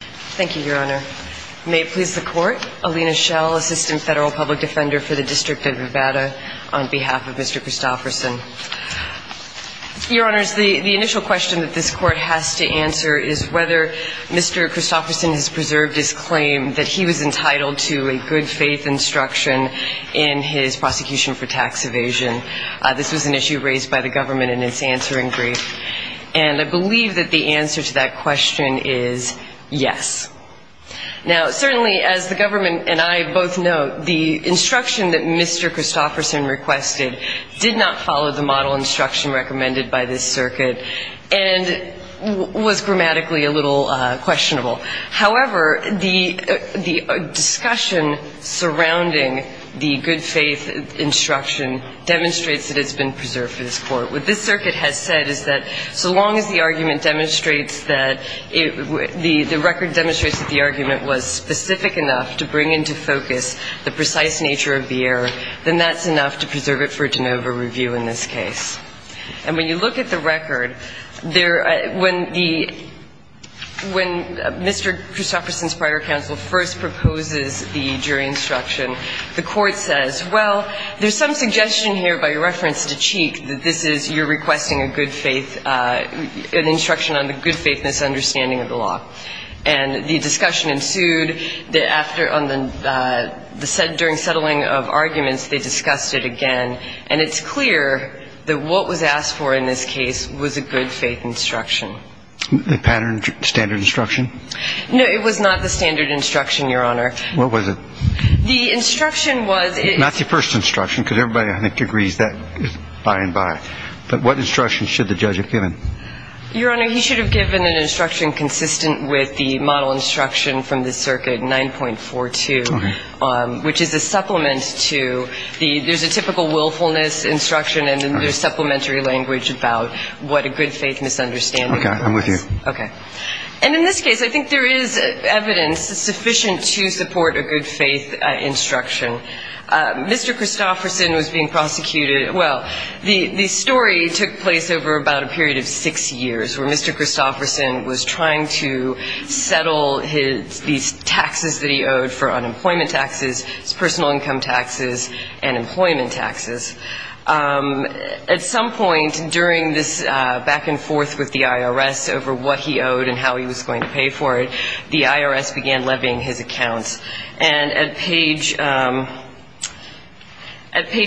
Thank you, Your Honor. May it please the Court, Alina Schell, Assistant Federal Public Defender for the District of Nevada, on behalf of Mr. Christopherson. Your Honors, the initial question that this Court has to answer is whether Mr. Christopherson has preserved his claim that he was entitled to a good faith instruction in his prosecution for tax evasion. This was an issue raised by the government in its answering brief. And I believe that the answer to that question is yes. Now, certainly, as the government and I both know, the instruction that Mr. Christopherson requested did not follow the model instruction recommended by this circuit and was grammatically a little questionable. However, the discussion surrounding the good faith instruction demonstrates that it's been preserved for this Court. What this circuit has said is that so long as the argument demonstrates that the record demonstrates that the argument was specific enough to bring into focus the precise nature of the error, then that's enough to preserve it for a de novo review in this case. And when you look at the record, when Mr. Christopherson's prior counsel first proposes the jury instruction, the Court says, well, there's some suggestion here by reference to Cheek that this is you're good faith, an instruction on the good faith misunderstanding of the law. And the discussion ensued that during settling of arguments, they discussed it again. And it's clear that what was asked for in this case was a good faith instruction. The pattern, standard instruction? No, it was not the standard instruction, Your Honor. What was it? The instruction was it's Not the first instruction, because everybody, I think, agrees that is by and by. But what instruction should the judge have given? Your Honor, he should have given an instruction consistent with the model instruction from the circuit 9.42, which is a supplement to the, there's a typical willfulness instruction, and then there's supplementary language about what a good faith misunderstanding was. OK, I'm with you. OK. And in this case, I think there is evidence sufficient to support a good faith instruction. Mr. Christopherson was being prosecuted, well, the story took place over about a period of six years, where Mr. Christopherson was trying to settle these taxes that he owed for unemployment taxes, personal income taxes, and employment taxes. At some point during this back and forth with the IRS over what he owed and how he was going to pay for it, the IRS began levying his accounts. And at page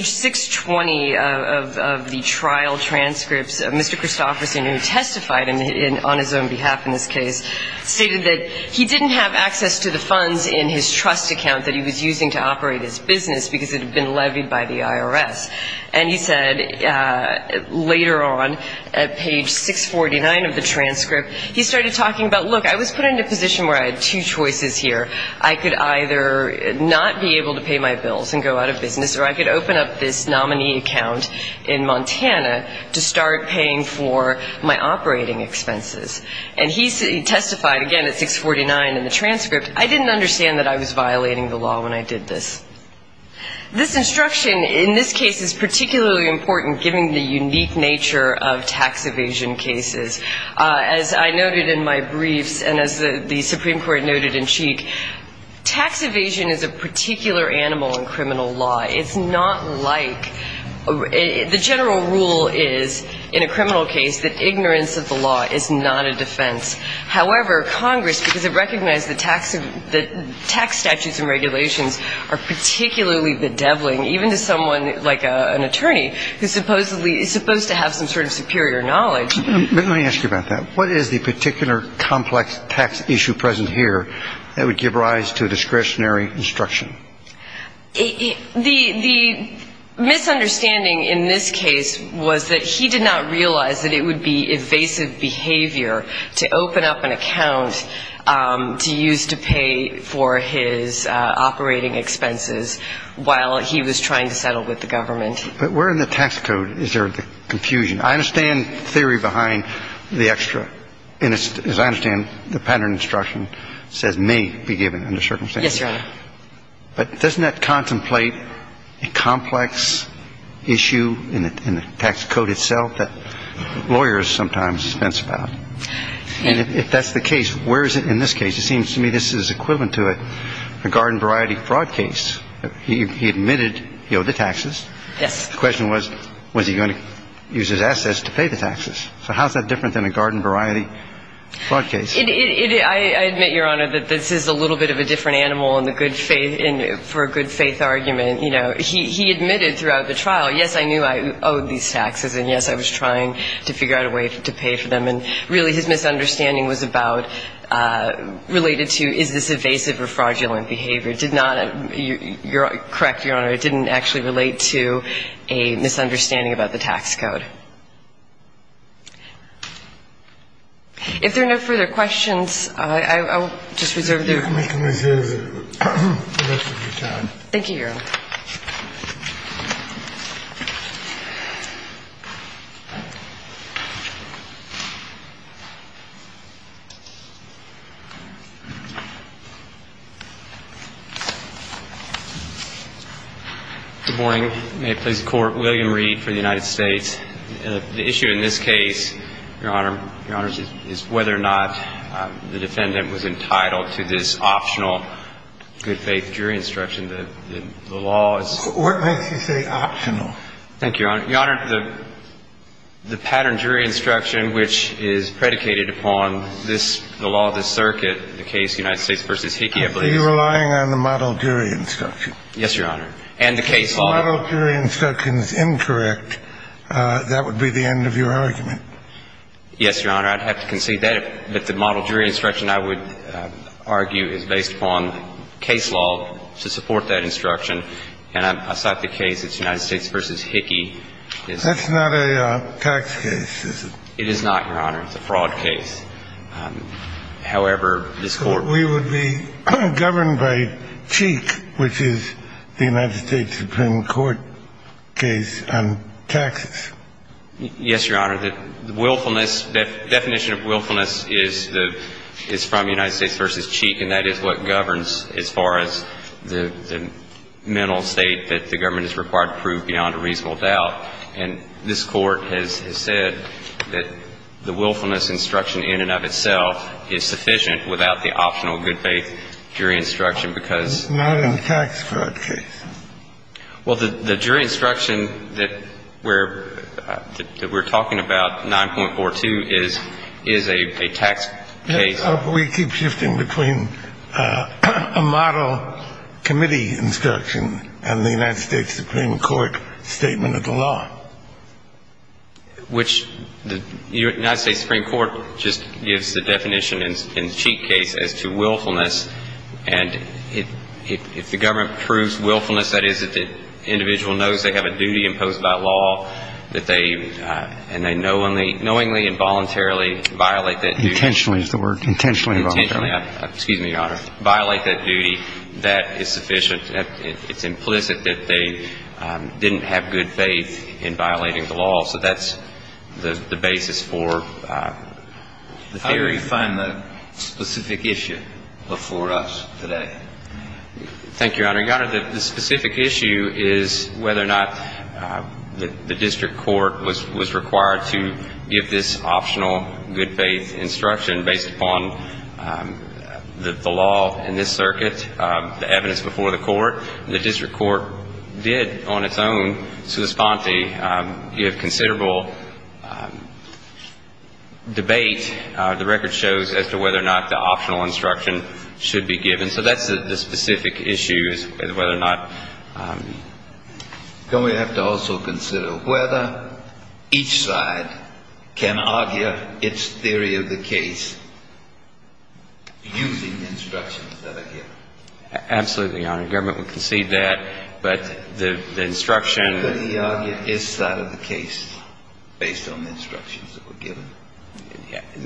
620 of the trial transcripts, Mr. Christopherson, who testified on his own behalf in this case, stated that he didn't have access to the funds in his trust account that he was using to operate his business because it had been levied by the IRS. And he said, later on, at page 649 of the transcript, he started talking about, look, I was put in a position where I had two choices here. I could either not be able to pay my bills and go out of business, or I could open up this nominee account in Montana to start paying for my operating expenses. And he testified, again, at 649 in the transcript, I didn't understand that I was violating the law when I did this. This instruction in this case is particularly important, given the unique nature of tax evasion cases. As I noted in my briefs, and as the Supreme Court noted in Cheek, tax evasion is a particular animal in criminal law. It's not like, the general rule is, in a criminal case, that ignorance of the law is not a defense. However, Congress, because it recognized the tax statutes and regulations, are particularly bedeviling, even to someone like an attorney, who's supposed to have some sort of superior knowledge. Let me ask you about that. What is the particular complex tax issue present here that would give rise to discretionary instruction? The misunderstanding in this case was that he did not realize that it would be evasive behavior to open up an account to use to pay for his operating expenses while he was trying to settle with the government. But where in the tax code is there the confusion? I understand the theory behind the extra. And as I understand, the pattern of instruction says may be given under certain circumstances. Yes, Your Honor. But doesn't that contemplate a complex issue in the tax code itself that lawyers sometimes fence about? And if that's the case, where is it in this case? It seems to me this is equivalent to a garden variety fraud case. He admitted he owed the taxes. Yes. The question was, was he going to use his assets to pay the taxes? So how is that different than a garden variety fraud case? I admit, Your Honor, that this is a little bit of a different animal for a good faith argument. He admitted throughout the trial, yes, I knew I owed these taxes. And yes, I was trying to figure out a way to pay for them. And really, his misunderstanding was about, related to, is this evasive or fraudulent behavior? Correct, Your Honor. It didn't actually relate to a misunderstanding about the tax code. If there are no further questions, I will just reserve the rest of your time. Thank you, Your Honor. Good morning. May it please the Court. William Reed for the United States. The issue in this case, Your Honor, is whether or not the defendant was entitled to this optional good faith jury instruction. The law is. What makes you say optional? Thank you, Your Honor. Your Honor, the pattern jury instruction, which is predicated upon the law of the circuit, the case United States v. Hickey, I believe. Are you relying on the model jury instruction? Yes, Your Honor. If the model jury instruction is incorrect, that would be the end of your argument. Yes, Your Honor, I'd have to concede that. But the model jury instruction, I would argue, is based upon case law to support that instruction. And I cite the case, it's United States v. Hickey. That's not a tax case, is it? It is not, Your Honor. It's a fraud case. However, this Court. We would be governed by Cheek, which is the United States Supreme Court case on taxes. Yes, Your Honor. Definition of willfulness is from United States v. Cheek. And that is what governs, as far as the mental state that the government is required to prove beyond a reasonable doubt. And this Court has said that the willfulness instruction in and of itself is sufficient without the optional good faith jury instruction, because. It's not a tax fraud case. Well, the jury instruction that we're talking about, 9.42, is a tax case. We keep shifting between a model committee instruction and the United States Supreme Court statement of the law. Which the United States Supreme Court just gives the definition in Cheek case as to willfulness. And if the government proves willfulness, that is, that the individual knows they have a duty imposed by law, that they, and they knowingly, involuntarily violate that duty. Intentionally is the word. Intentionally, involuntarily. Intentionally, excuse me, Your Honor. Violate that duty. That is sufficient. It's implicit that they didn't have good faith in the law. In violating the law. So that's the basis for the theory. How do you define the specific issue before us today? Thank you, Your Honor. The specific issue is whether or not the district court was required to give this optional good faith instruction based upon the law in this circuit, the evidence before the court. The district court did on its own, sui sponte. You have considerable debate, the record shows, as to whether or not the optional instruction should be given. So that's the specific issue, is whether or not. Can we have to also consider whether each side can argue its theory of the case using instructions that are given? Absolutely, Your Honor. The government would concede that. But the instruction. Could he argue his side of the case based on the instructions that were given?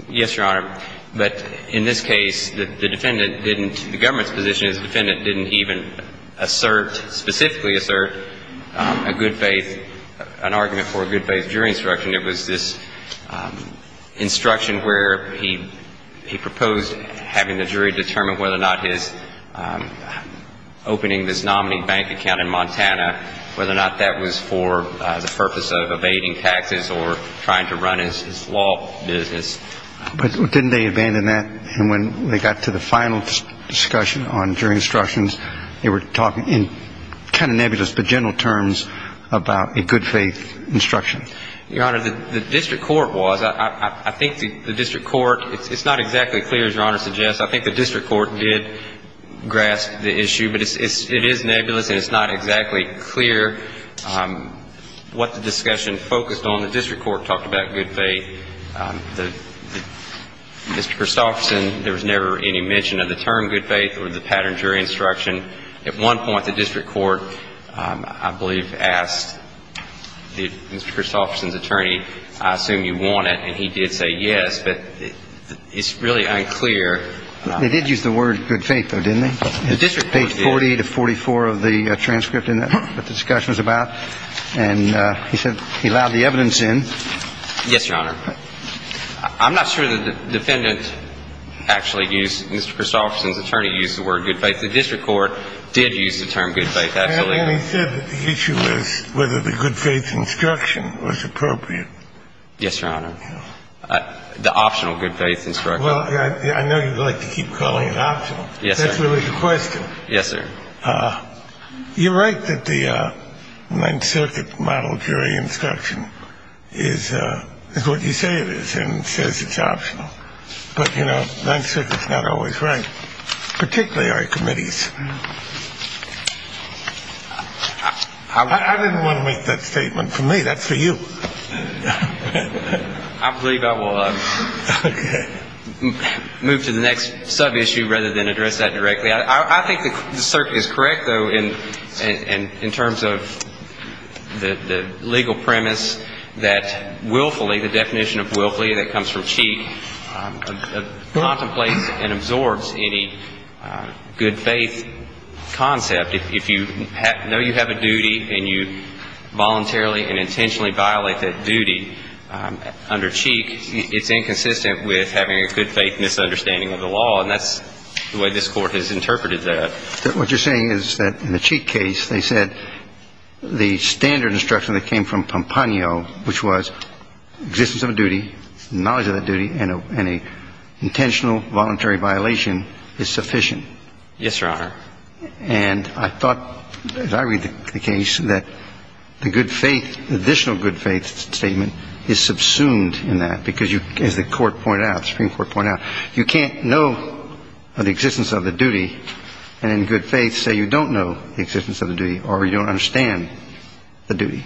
Yes, Your Honor. But in this case, the defendant didn't, the government's position is the defendant didn't even assert, specifically assert, a good faith, an argument for a good faith jury instruction. It was this instruction where he proposed having the jury determine whether or not his opening this nominee bank account in Montana, whether or not that was for the purpose of evading taxes or trying to run his law business. But didn't they abandon that? And when they got to the final discussion on jury instructions, they were talking in kind of nebulous but gentle terms about a good faith instruction. Your Honor, the district court was, I think the district court, it's not exactly clear, as Your Honor suggests, I think the district court did grasp the issue. But it is nebulous, and it's not exactly clear what the discussion focused on. The district court talked about good faith. Mr. Christofferson, there was never any mention of the term good faith or the pattern jury instruction. At one point, the district court, I believe, asked Mr. Christofferson's attorney, I assume you want it, and he did say yes. But it's really unclear. They did use the word good faith, though, didn't they? The district court did. It's page 40 to 44 of the transcript in what the discussion was about. And he said he allowed the evidence in. Yes, Your Honor. I'm not sure that the defendant actually used Mr. Christofferson's attorney used the word good faith. The district court did use the term good faith, actually. And he said that the issue was whether the good faith instruction was appropriate. Yes, Your Honor. The optional good faith instruction. Well, I know you'd like to keep calling it optional. Yes, sir. That's really the question. Yes, sir. You're right that the Ninth Circuit model jury instruction is what you say it is and says it's optional. But you know, Ninth Circuit's not always right, particularly our committees. I didn't want to make that statement. For me, that's for you. I believe I will move to the next sub-issue rather than address that directly. I think the circuit is correct, though, in terms of the legal premise that willfully, the definition of willfully that comes from Cheek, contemplates and absorbs any good faith concept. If you know you have a duty and you voluntarily and intentionally violate that duty under Cheek, it's inconsistent with having a good faith misunderstanding of the law. And that's the way this Court has interpreted that. What you're saying is that in the Cheek case, they said the standard instruction that came from Pompano, which was existence of a duty, knowledge of that duty, and an intentional voluntary violation is sufficient. Yes, Your Honor. And I thought, as I read the case, that the good faith, additional good faith statement, is subsumed in that. Because as the Supreme Court pointed out, you can't know of the existence of the duty and in good faith say you don't know the existence of the duty or you don't understand the duty.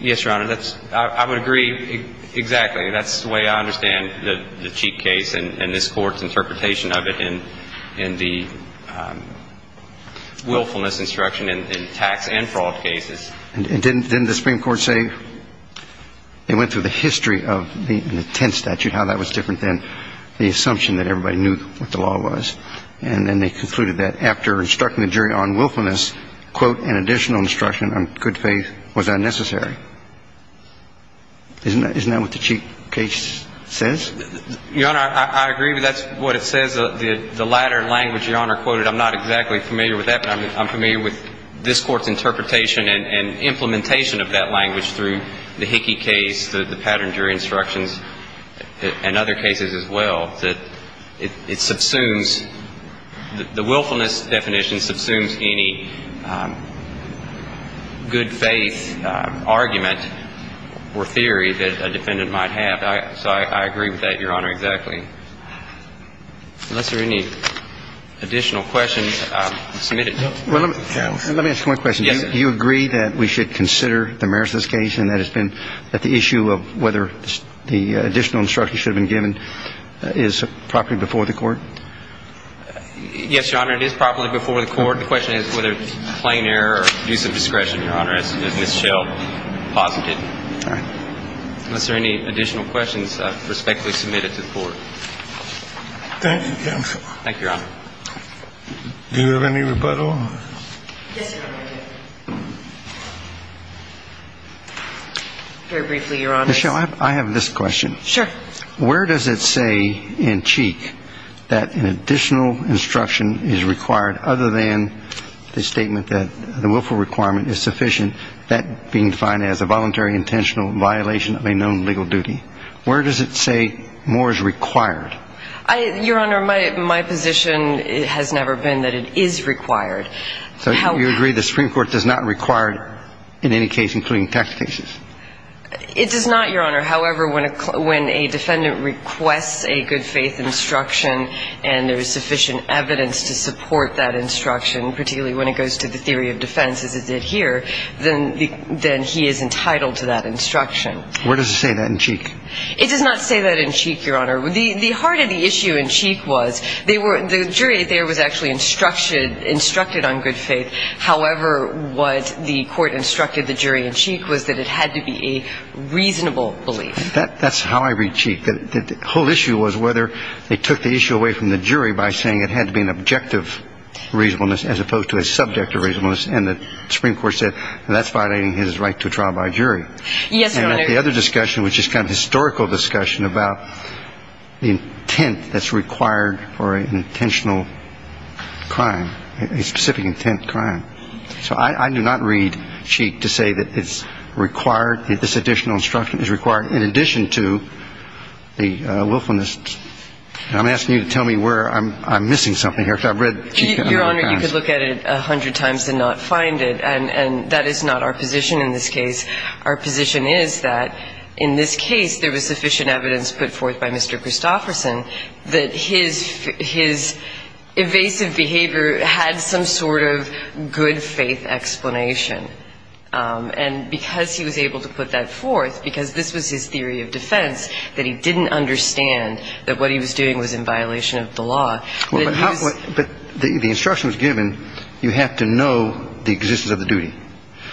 Yes, Your Honor. I would agree exactly. That's the way I understand the Cheek case and this Court's interpretation of it in the willfulness instruction in tax and fraud cases. And didn't the Supreme Court say they went through the history of the intent statute, how that was different than the assumption that everybody knew what the law was. And then they concluded that after instructing the jury on willfulness, quote, an additional instruction on good faith was unnecessary. Isn't that what the Cheek case says? Your Honor, I agree. That's what it says. The latter language, Your Honor quoted, I'm not exactly familiar with that. But I'm familiar with this Court's interpretation and implementation of that language through the Hickey case, the pattern jury instructions, and other cases as well. That it subsumes, the willfulness definition subsumes any good faith argument or theory that a defendant might have. So I agree with that, Your Honor, exactly. Unless there are any additional questions, I'll submit it. Well, let me ask one question. Do you agree that we should consider the merits of this case and that the issue of whether the additional instruction should have been given is properly before the Court? Yes, Your Honor, it is properly before the Court. The question is whether it's plain error or use of discretion, Your Honor, as Ms. Schell posited. Unless there are any additional questions, I respectfully submit it to the Court. Thank you, counsel. Thank you, Your Honor. Do you have any rebuttal? Yes, Your Honor. Very briefly, Your Honor. Ms. Schell, I have this question. Sure. Where does it say in Cheek that an additional instruction is required other than the statement that the willful requirement is sufficient, that being defined as a voluntary intentional violation of a known legal duty? Where does it say more is required? Your Honor, my position has never been that it is required. So you agree the Supreme Court does not require it in any case, including tax cases? It does not, Your Honor. However, when a defendant requests a good faith instruction and there is sufficient evidence to support that instruction, particularly when it goes to the theory of defense as it did here, then he is entitled to that instruction. Where does it say that in Cheek? It does not say that in Cheek, Your Honor. The heart of the issue in Cheek was the jury there was actually instructed on good faith. However, what the court instructed the jury in Cheek was that it had to be a reasonable belief. That's how I read Cheek. The whole issue was whether they took the issue away from the jury by saying it had to be an objective reasonableness as opposed to a subjective reasonableness. And the Supreme Court said that's violating his right to a trial by jury. Yes, Your Honor. The other discussion, which is kind of historical discussion about the intent that's required for an intentional crime, a specific intent crime. So I do not read Cheek to say that it's required, that this additional instruction is required, in addition to the willfulness. I'm asking you to tell me where I'm missing something here. I've read Cheek 100 times. Your Honor, you could look at it 100 times and not find it. And that is not our position in this case. Our position is that in this case, there was sufficient evidence put forth by Mr. Christofferson that his evasive behavior had some sort of good faith explanation. And because he was able to put that forth, because this was his theory of defense, that he didn't understand that what he was doing was in violation of the law. But the instruction was given, you have to know the existence of the duty.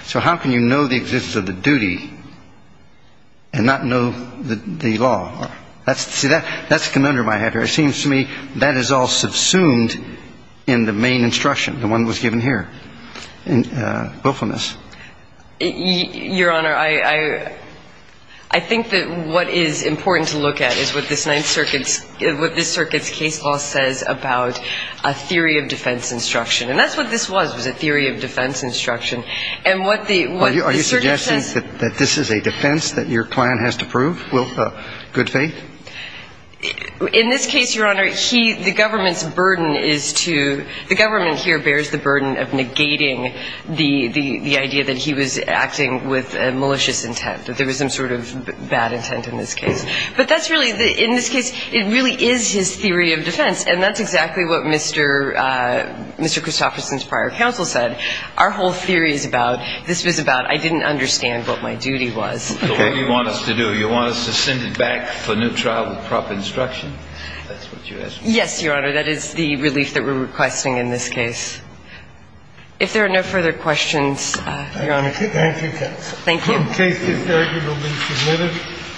So how can you know the existence of the duty and not know the law? See, that's a conundrum I have here. It seems to me that is all subsumed in the main instruction, the one that was given here, willfulness. Your Honor, I think that what is important to look at is what this Ninth Circuit's case law says about a theory of defense instruction. And that's what this was, was a theory of defense instruction. And what the circuit says that this is a defense that your client has to prove with good faith? In this case, Your Honor, the government's burden is to, the government here bears the burden of negating the idea that he was acting with malicious intent, that there was some sort of bad intent in this case. But that's really, in this case, it really is his theory of defense. And that's exactly what Mr. Christofferson's prior counsel said. Our whole theory is about, this was about, I didn't understand what my duty was. So what do you want us to do? You want us to send it back for a new trial with proper instruction? That's what you're asking? Yes, Your Honor. That is the relief that we're requesting in this case. If there are no further questions, Your Honor. Thank you, counsel. Thank you. The case is arguably submitted.